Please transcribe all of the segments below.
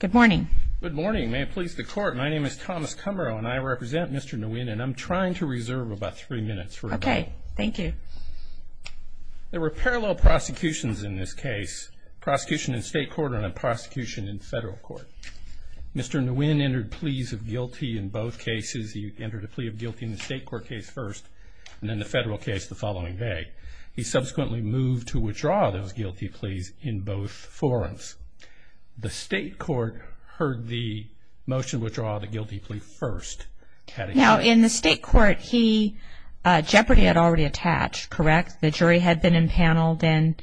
Good morning. Good morning. May it please the court. My name is Thomas Kummerow and I represent Mr. Nguyen and I'm trying to reserve about three minutes. Okay. Thank you. There were parallel prosecutions in this case. Prosecution in state court and a prosecution in federal court. Mr. Nguyen entered pleas of guilty in both cases. He entered a plea of guilty in the state court case first and then the federal case the following day. He subsequently moved to withdraw those guilty pleas in both forums. The state court heard the motion to withdraw the guilty plea first. Now in the state court he, Jeopardy had already attached, correct? The jury had been impaneled and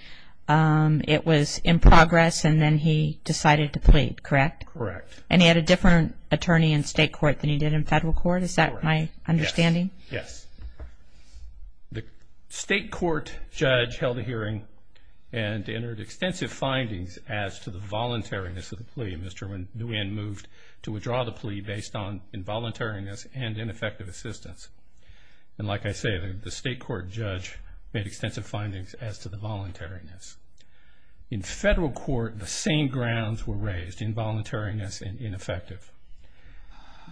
it was in progress and then he decided to plead, correct? Correct. And he had a different attorney in state court than he did in federal court? Is that my understanding? Yes. The state court judge held a hearing and entered extensive findings as to the voluntariness of the plea. Mr. Nguyen moved to withdraw the plea based on involuntariness and ineffective assistance. And like I say, the state court judge made extensive findings as to the voluntariness. In federal court the same grounds were raised, involuntariness and ineffective.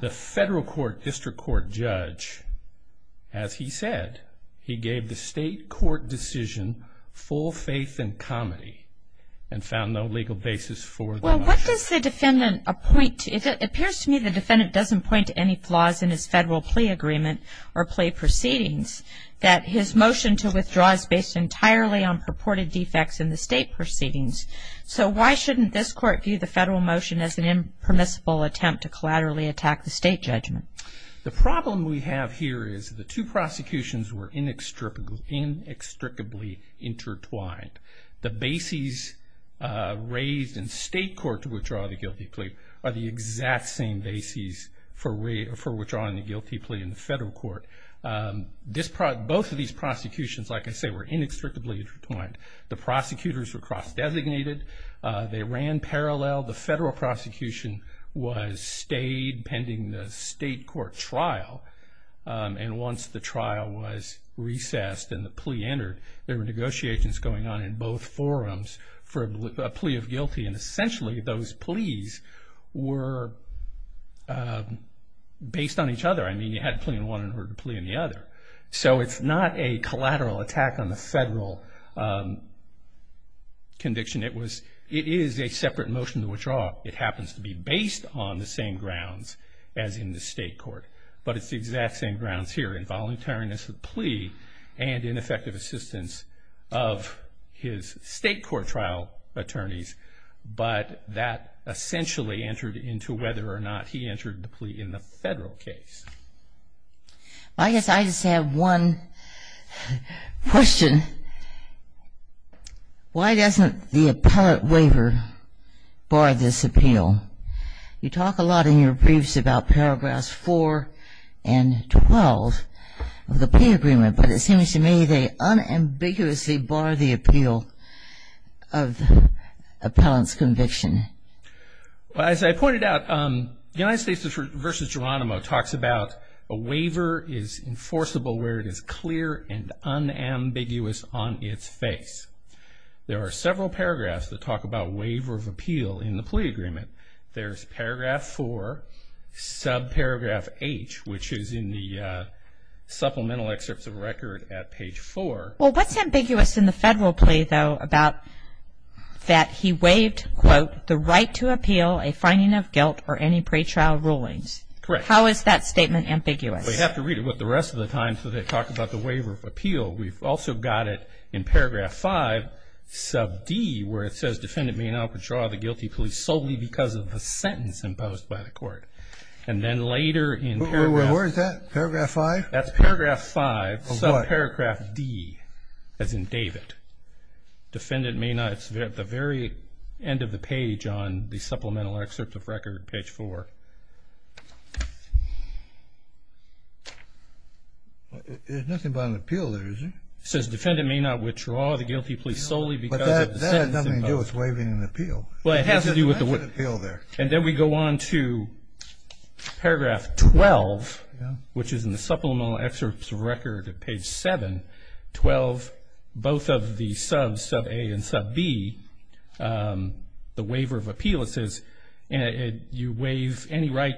The federal court district court judge, as he said, he gave the state court decision full faith and comedy and found no legal basis for the motion. Well what does the defendant appoint, it appears to me the defendant doesn't point to any flaws in his federal plea agreement or plea proceedings. That his motion to withdraw is based entirely on purported defects in the state proceedings. So why shouldn't this court view the federal motion as an impermissible attempt to collaterally attack the state judgment? The problem we have here is the two prosecutions were inextricably intertwined. The bases raised in state court to withdraw the guilty plea are the exact same bases for withdrawing the guilty plea in the federal court. Both of these prosecutions, like I say, were inextricably intertwined. The prosecutors were cross-designated. They ran parallel. The federal prosecution was stayed pending the state court trial. And once the trial was recessed and the plea entered, there were negotiations going on in both forums for a plea of guilty. And essentially those pleas were based on each other. I mean you had to plead in one in order to plead in the other. So it's not a collateral attack on the federal conviction. It is a separate motion to withdraw. It happens to be based on the same grounds as in the state court. But it's the exact same grounds here, involuntariness of plea and ineffective assistance of his state court trial attorneys. But that essentially entered into whether or not he entered the plea in the federal case. I guess I just have one question. Why doesn't the appellate waiver bar this appeal? You talk a lot in your briefs about paragraphs 4 and 12 of the plea agreement. But it seems to me they unambiguously bar the appeal of the appellant's conviction. As I pointed out, the United States v. Geronimo talks about a waiver is enforceable where it is clear and unambiguous on its face. There are several paragraphs that talk about waiver of appeal in the plea agreement. There's paragraph 4, subparagraph H, which is in the supplemental excerpts of record at page 4. Well, what's ambiguous in the federal plea, though, about that he waived, quote, the right to appeal a finding of guilt or any pretrial rulings? Correct. How is that statement ambiguous? We have to read it with the rest of the time so they talk about the waiver of appeal. We've also got it in paragraph 5, sub D, where it says, defendant may now withdraw the guilty plea solely because of the sentence imposed by the court. And then later in paragraph – Where is that? Paragraph 5? That's paragraph 5, subparagraph D, as in David. Defendant may not – it's at the very end of the page on the supplemental excerpt of record, page 4. There's nothing about an appeal there, is there? It says, defendant may not withdraw the guilty plea solely because of the sentence imposed. But that has nothing to do with waiving an appeal. Well, it has to do with the waiver. That's an appeal there. And then we go on to paragraph 12, which is in the supplemental excerpt of record at page 7. Twelve, both of the subs, sub A and sub B, the waiver of appeal, it says, you waive any right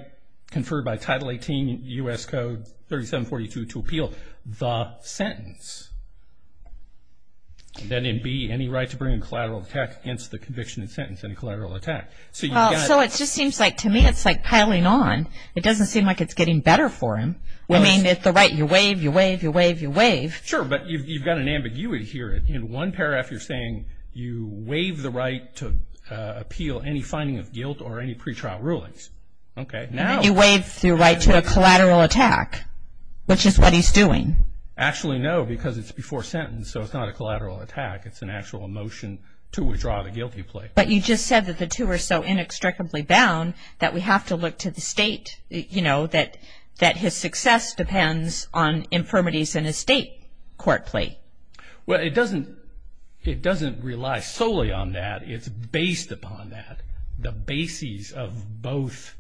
conferred by Title 18 U.S. Code 3742 to appeal the sentence. Then in B, any right to bring a collateral attack against the conviction and sentence, any collateral attack. So you've got – Well, so it just seems like, to me, it's like piling on. It doesn't seem like it's getting better for him. I mean, it's the right you waive, you waive, you waive, you waive. Sure, but you've got an ambiguity here. In one paragraph, you're saying you waive the right to appeal any finding of guilt or any pretrial rulings. Okay, now – You waive the right to a collateral attack, which is what he's doing. Actually, no, because it's before sentence, so it's not a collateral attack. It's an actual motion to withdraw the guilty plea. But you just said that the two are so inextricably bound that we have to look to the State, you know, that his success depends on infirmities in a State court plea. Well, it doesn't rely solely on that. It's based upon that, the bases of both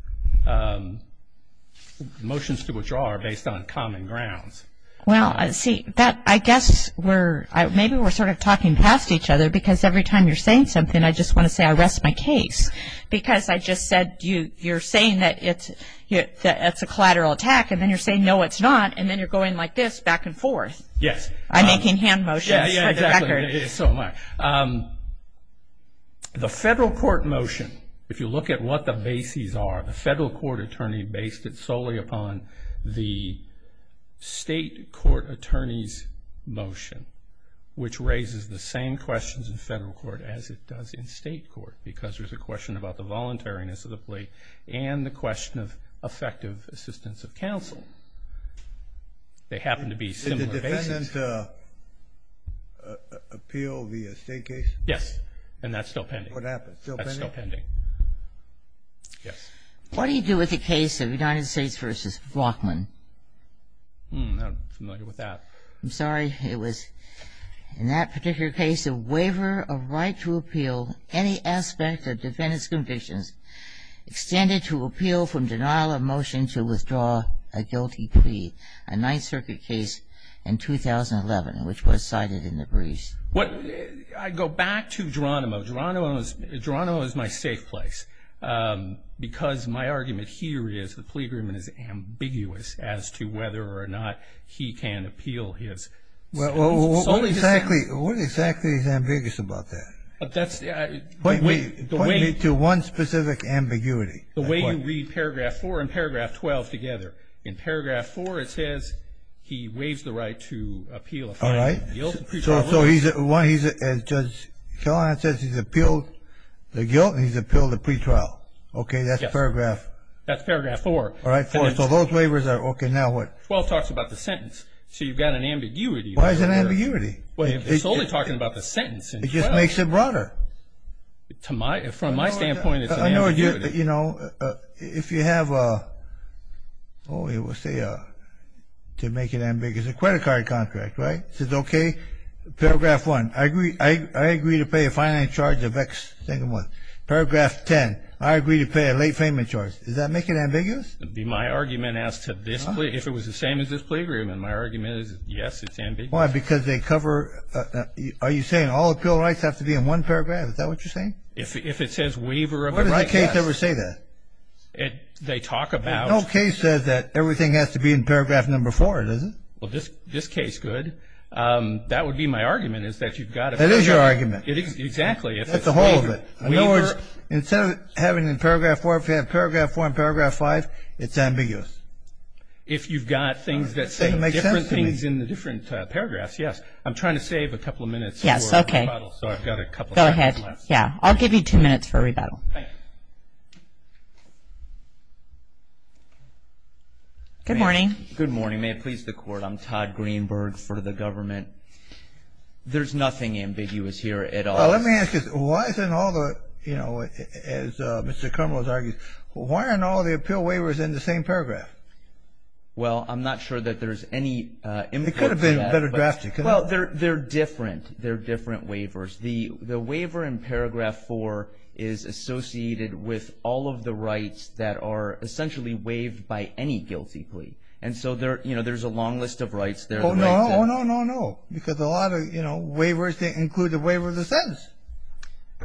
motions to withdraw are based on common grounds. Well, see, I guess maybe we're sort of talking past each other because every time you're saying something, I just want to say I rest my case. Because I just said you're saying that it's a collateral attack, and then you're saying, no, it's not, and then you're going like this back and forth. Yes. I'm making hand motions for the record. Yeah, exactly, so am I. The Federal Court motion, if you look at what the bases are, the Federal Court attorney based it solely upon the State court attorney's motion, which raises the same questions in Federal Court as it does in State court because there's a question about the voluntariness of the plea and the question of effective assistance of counsel. They happen to be similar bases. Did the defendant appeal the State case? Yes, and that's still pending. What happened? Still pending? That's still pending. Yes. What do you do with the case of United States v. Walkman? I'm not familiar with that. I'm sorry. It was in that particular case a waiver of right to appeal any aspect of defendant's convictions extended to appeal from denial of motion to withdraw a guilty plea, a Ninth Circuit case in 2011, which was cited in the briefs. I go back to Geronimo. Geronimo is my safe place because my argument here is the plea agreement is ambiguous as to whether or not he can appeal his. Well, what exactly is ambiguous about that? Point me to one specific ambiguity. The way you read Paragraph 4 and Paragraph 12 together. In Paragraph 4 it says he waives the right to appeal a fine. All right. So he's a judge. He says he's appealed the guilt and he's appealed the pretrial. Okay, that's Paragraph. That's Paragraph 4. All right, 4. So those waivers are okay. Now what? 12 talks about the sentence. So you've got an ambiguity. Why is it an ambiguity? It's only talking about the sentence. It just makes it broader. From my standpoint, it's an ambiguity. You know, if you have a, oh, it will say to make it ambiguous. It's a credit card contract, right? It says, okay, Paragraph 1, I agree to pay a fine and charge of X single month. Paragraph 10, I agree to pay a late payment charge. Does that make it ambiguous? It would be my argument as to this plea. If it was the same as this plea agreement, my argument is, yes, it's ambiguous. Why? Because they cover, are you saying all appeal rights have to be in one paragraph? Is that what you're saying? If it says waiver of a right, yes. Why does the case ever say that? They talk about. No case says that everything has to be in Paragraph 4, does it? Well, this case could. That would be my argument is that you've got to figure out. That is your argument. Exactly. That's the whole of it. In other words, instead of having it in Paragraph 4, if you have Paragraph 4 and Paragraph 5, it's ambiguous. If you've got things that say different things in the different paragraphs, yes. I'm trying to save a couple of minutes for a rebuttal. Yes, okay. So I've got a couple of minutes left. Go ahead. Yeah, I'll give you two minutes for a rebuttal. Thank you. Good morning. Good morning. May it please the Court, I'm Todd Greenberg for the government. There's nothing ambiguous here at all. Well, let me ask you, why isn't all the, you know, as Mr. Karmel has argued, why aren't all the appeal waivers in the same paragraph? Well, I'm not sure that there's any input to that. It could have been better drafted. Well, they're different. They're different waivers. The waiver in Paragraph 4 is associated with all of the rights that are essentially waived by any guilty plea. Oh, no, no, no, no. Because a lot of, you know, waivers, they include the waiver of the sentence.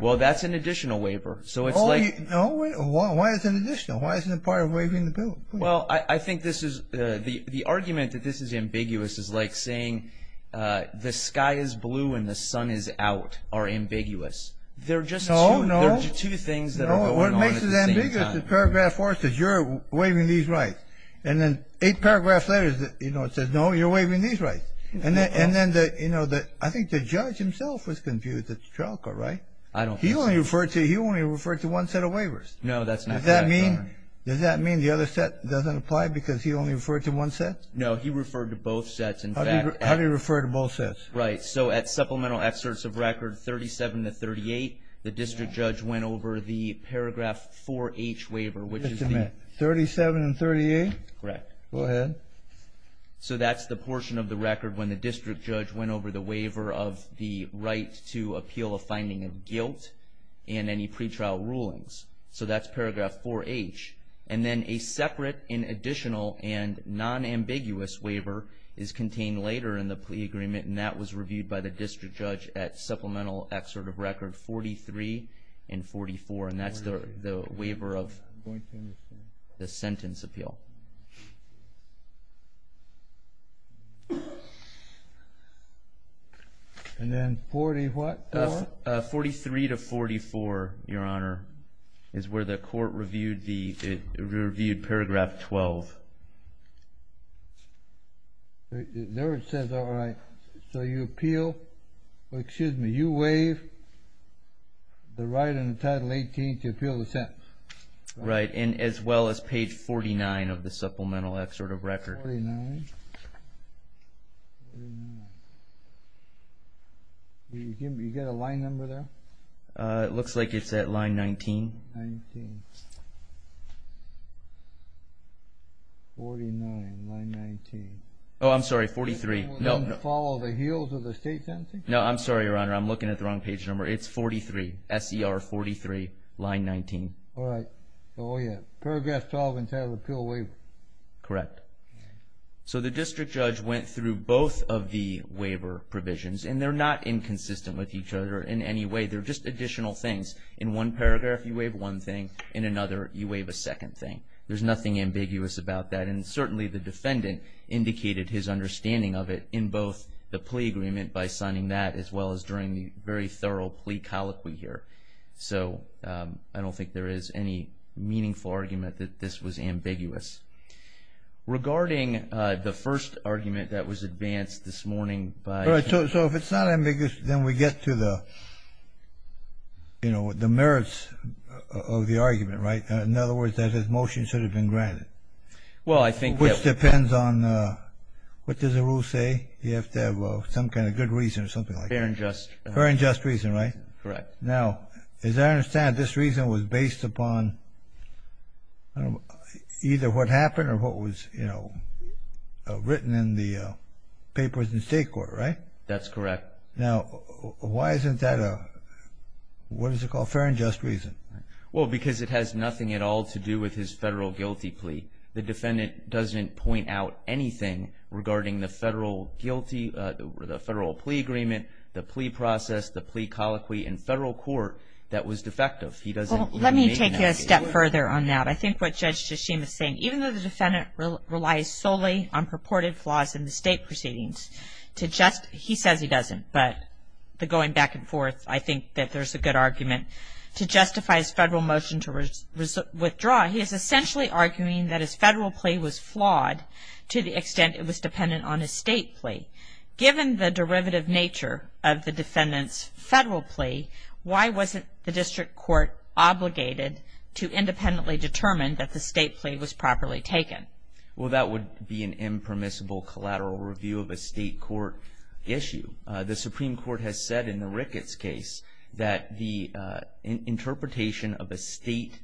Well, that's an additional waiver. So it's like – No, wait. Why is it additional? Why isn't it part of waiving the bill? Well, I think this is – the argument that this is ambiguous is like saying the sky is blue and the sun is out are ambiguous. They're just two – No, no. They're just two things that are going on at the same time. No, what makes it ambiguous is Paragraph 4 says you're waiving these rights. And then eight paragraphs later, you know, it says, no, you're waiving these rights. And then, you know, I think the judge himself was confused at the trial court, right? I don't think so. He only referred to one set of waivers. No, that's not correct. Does that mean the other set doesn't apply because he only referred to one set? No, he referred to both sets, in fact. How do you refer to both sets? Right. So at Supplemental Excerpts of Record 37 to 38, the district judge went over the Paragraph 4H waiver, which is the – Okay. Correct. Go ahead. So that's the portion of the record when the district judge went over the waiver of the right to appeal a finding of guilt in any pretrial rulings. So that's Paragraph 4H. And then a separate and additional and non-ambiguous waiver is contained later in the plea agreement, and that was reviewed by the district judge at Supplemental Excerpt of Record 43 and 44, and that's the waiver of the sentence appeal. And then 44? 43 to 44, Your Honor, is where the court reviewed Paragraph 12. There it says, all right, so you appeal – excuse me, you waive the right under Title 18 to appeal the sentence. Right, and as well as page 49 of the Supplemental Excerpt of Record. 49. Do you get a line number there? It looks like it's at line 19. 19. 49, line 19. Oh, I'm sorry, 43. No, no. Follow the heels of the state sentencing? No, I'm sorry, Your Honor, I'm looking at the wrong page number. It's 43, S-E-R 43, line 19. All right. Oh, yeah. Paragraph 12 in Title of Appeal Waiver. Correct. So the district judge went through both of the waiver provisions, and they're not inconsistent with each other in any way. They're just additional things. In one paragraph, you waive one thing. In another, you waive a second thing. There's nothing ambiguous about that, and certainly the defendant indicated his understanding of it in both the plea agreement by signing that as well as during the very thorough plea colloquy here. So I don't think there is any meaningful argument that this was ambiguous. Regarding the first argument that was advanced this morning by – the merits of the argument, right? In other words, that his motion should have been granted. Well, I think that – Which depends on – what does the rule say? You have to have some kind of good reason or something like that. Fair and just. Fair and just reason, right? Correct. Now, as I understand, this reason was based upon either what happened or what was, you know, written in the papers in the state court, right? That's correct. Now, why isn't that a – what is it called? Fair and just reason. Well, because it has nothing at all to do with his federal guilty plea. The defendant doesn't point out anything regarding the federal guilty – the federal plea agreement, the plea process, the plea colloquy in federal court that was defective. He doesn't – Well, let me take you a step further on that. I think what Judge Tshishima is saying, even though the defendant relies solely on purported flaws in the state proceedings to just – he says he doesn't, but the going back and forth, I think that there's a good argument to justify his federal motion to withdraw. He is essentially arguing that his federal plea was flawed to the extent it was dependent on his state plea. Given the derivative nature of the defendant's federal plea, why wasn't the district court obligated to independently determine that the state plea was properly taken? Well, that would be an impermissible collateral review of a state court issue. The Supreme Court has said in the Ricketts case that the interpretation of a state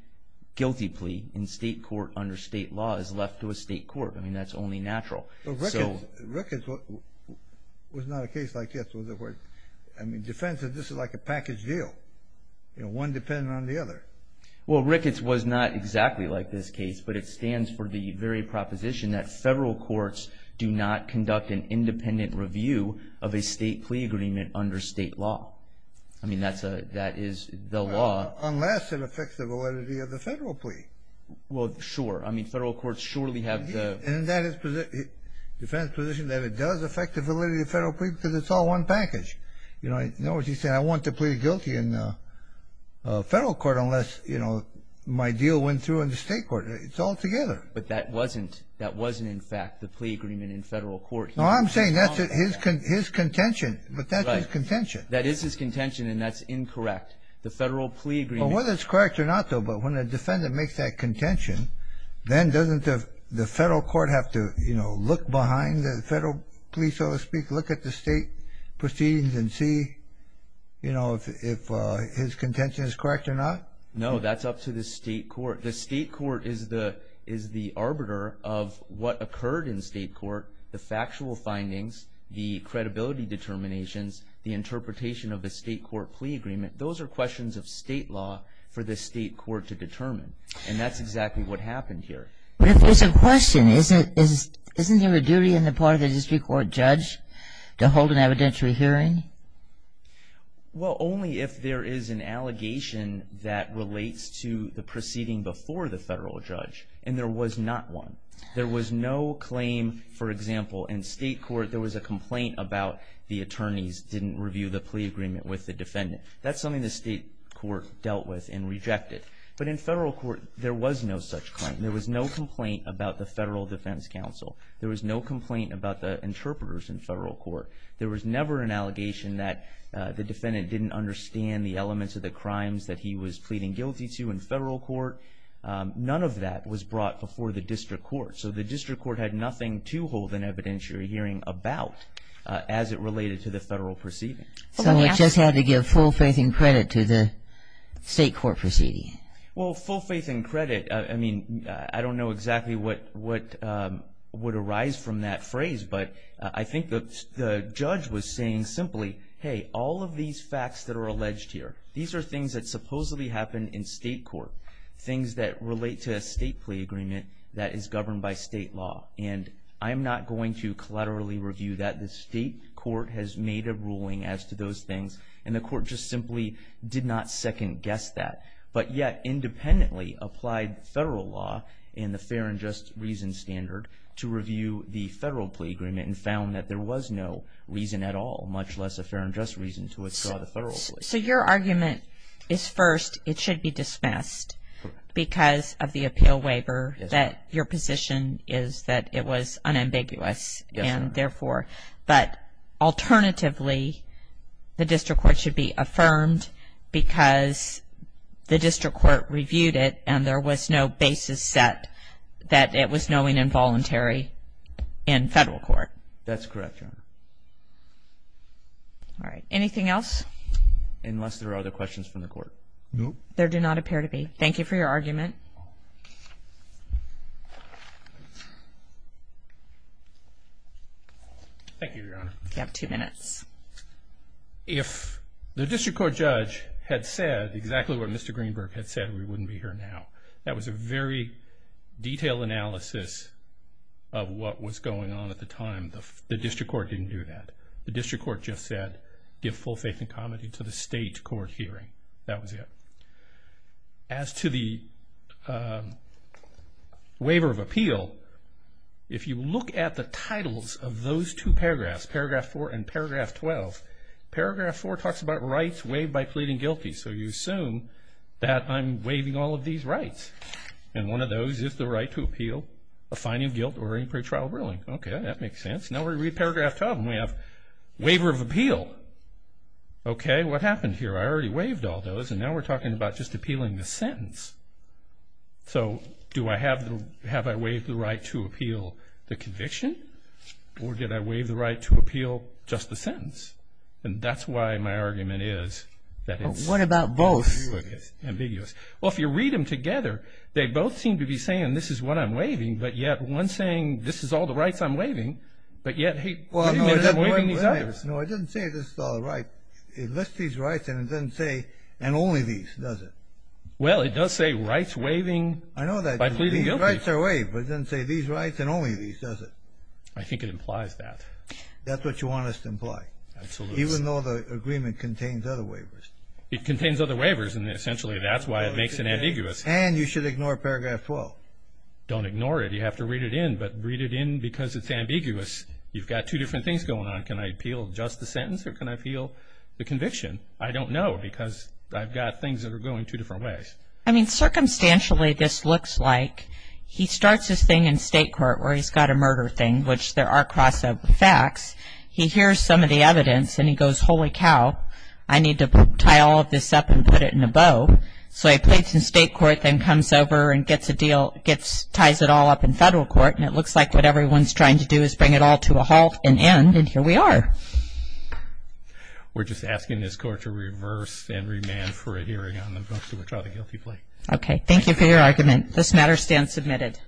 guilty plea in state court under state law is left to a state court. I mean, that's only natural. So – Ricketts was not a case like this, was it? I mean, defense is this is like a package deal. You know, one dependent on the other. Well, Ricketts was not exactly like this case, but it stands for the very proposition that federal courts do not conduct an independent review of a state plea agreement under state law. I mean, that is the law. Unless it affects the validity of the federal plea. Well, sure. I mean, federal courts surely have the – And that is defense's position that it does affect the validity of the federal plea because it's all one package. In other words, he's saying I want to plead guilty in federal court unless, you know, my deal went through in the state court. It's all together. But that wasn't in fact the plea agreement in federal court. No, I'm saying that's his contention, but that's his contention. That is his contention, and that's incorrect. The federal plea agreement – Whether it's correct or not, though, but when a defendant makes that contention, then doesn't the federal court have to, you know, look behind the federal police, so to speak, look at the state proceedings and see, you know, if his contention is correct or not? No, that's up to the state court. The state court is the arbiter of what occurred in state court, the factual findings, the credibility determinations, the interpretation of the state court plea agreement. Those are questions of state law for the state court to determine, and that's exactly what happened here. But if there's a question, isn't there a duty on the part of the district court judge to hold an evidentiary hearing? Well, only if there is an allegation that relates to the proceeding before the federal judge, and there was not one. There was no claim, for example, in state court, there was a complaint about the attorneys didn't review the plea agreement with the defendant. That's something the state court dealt with and rejected. But in federal court, there was no such claim. There was no complaint about the federal defense counsel. There was no complaint about the interpreters in federal court. There was never an allegation that the defendant didn't understand the elements of the crimes that he was pleading guilty to in federal court. None of that was brought before the district court. So the district court had nothing to hold an evidentiary hearing about as it related to the federal proceeding. So it just had to give full faith and credit to the state court proceeding. Well, full faith and credit, I mean, I don't know exactly what would arise from that phrase, but I think the judge was saying simply, hey, all of these facts that are alleged here, these are things that supposedly happen in state court, things that relate to a state plea agreement that is governed by state law. And I'm not going to collaterally review that. The state court has made a ruling as to those things, and the court just simply did not second-guess that. But yet independently applied federal law and the fair and just reason standard to review the federal plea agreement and found that there was no reason at all, much less a fair and just reason to withdraw the federal plea. So your argument is, first, it should be dismissed because of the appeal waiver, that your position is that it was unambiguous, and therefore. But alternatively, the district court should be affirmed because the district court reviewed it and there was no basis set that it was knowing involuntary in federal court. That's correct, Your Honor. All right. Anything else? Unless there are other questions from the court. No. There do not appear to be. Thank you for your argument. Thank you, Your Honor. You have two minutes. If the district court judge had said exactly what Mr. Greenberg had said, we wouldn't be here now. That was a very detailed analysis of what was going on at the time. The district court didn't do that. The district court just said give full faith and comity to the state court hearing. That was it. As to the waiver of appeal, if you look at the titles of those two paragraphs, Paragraph 4 and Paragraph 12, Paragraph 4 talks about rights waived by pleading guilty. So you assume that I'm waiving all of these rights, and one of those is the right to appeal a fine of guilt or any pretrial ruling. Okay, that makes sense. Now we read Paragraph 12, and we have waiver of appeal. Okay, what happened here? I already waived all those, and now we're talking about just appealing the sentence. So have I waived the right to appeal the conviction, or did I waive the right to appeal just the sentence? And that's why my argument is that it's ambiguous. What about both? Well, if you read them together, they both seem to be saying this is what I'm waiving, but yet one's saying this is all the rights I'm waiving, but yet he admits I'm waiving these others. No, it doesn't say this is all the rights. It lists these rights, and it doesn't say, and only these, does it? Well, it does say rights waiving by pleading guilty. I know that. Rights are waived, but it doesn't say these rights and only these, does it? I think it implies that. That's what you want us to imply. Absolutely. Even though the agreement contains other waivers. It contains other waivers, and essentially that's why it makes it ambiguous. And you should ignore Paragraph 12. Don't ignore it. You have to read it in, but read it in because it's ambiguous. You've got two different things going on. Can I appeal just the sentence, or can I appeal the conviction? I don't know because I've got things that are going two different ways. I mean, circumstantially this looks like he starts his thing in state court where he's got a murder thing, which there are cross-over facts. He hears some of the evidence, and he goes, holy cow, I need to tie all of this up and put it in a bow. So he pleads in state court, then comes over and ties it all up in federal court, and it looks like what everyone's trying to do is bring it all to a halt and end, and here we are. We're just asking this Court to reverse and remand for a hearing on the most of which are the guilty plea. Okay. Thank you for your argument. This matter stands submitted.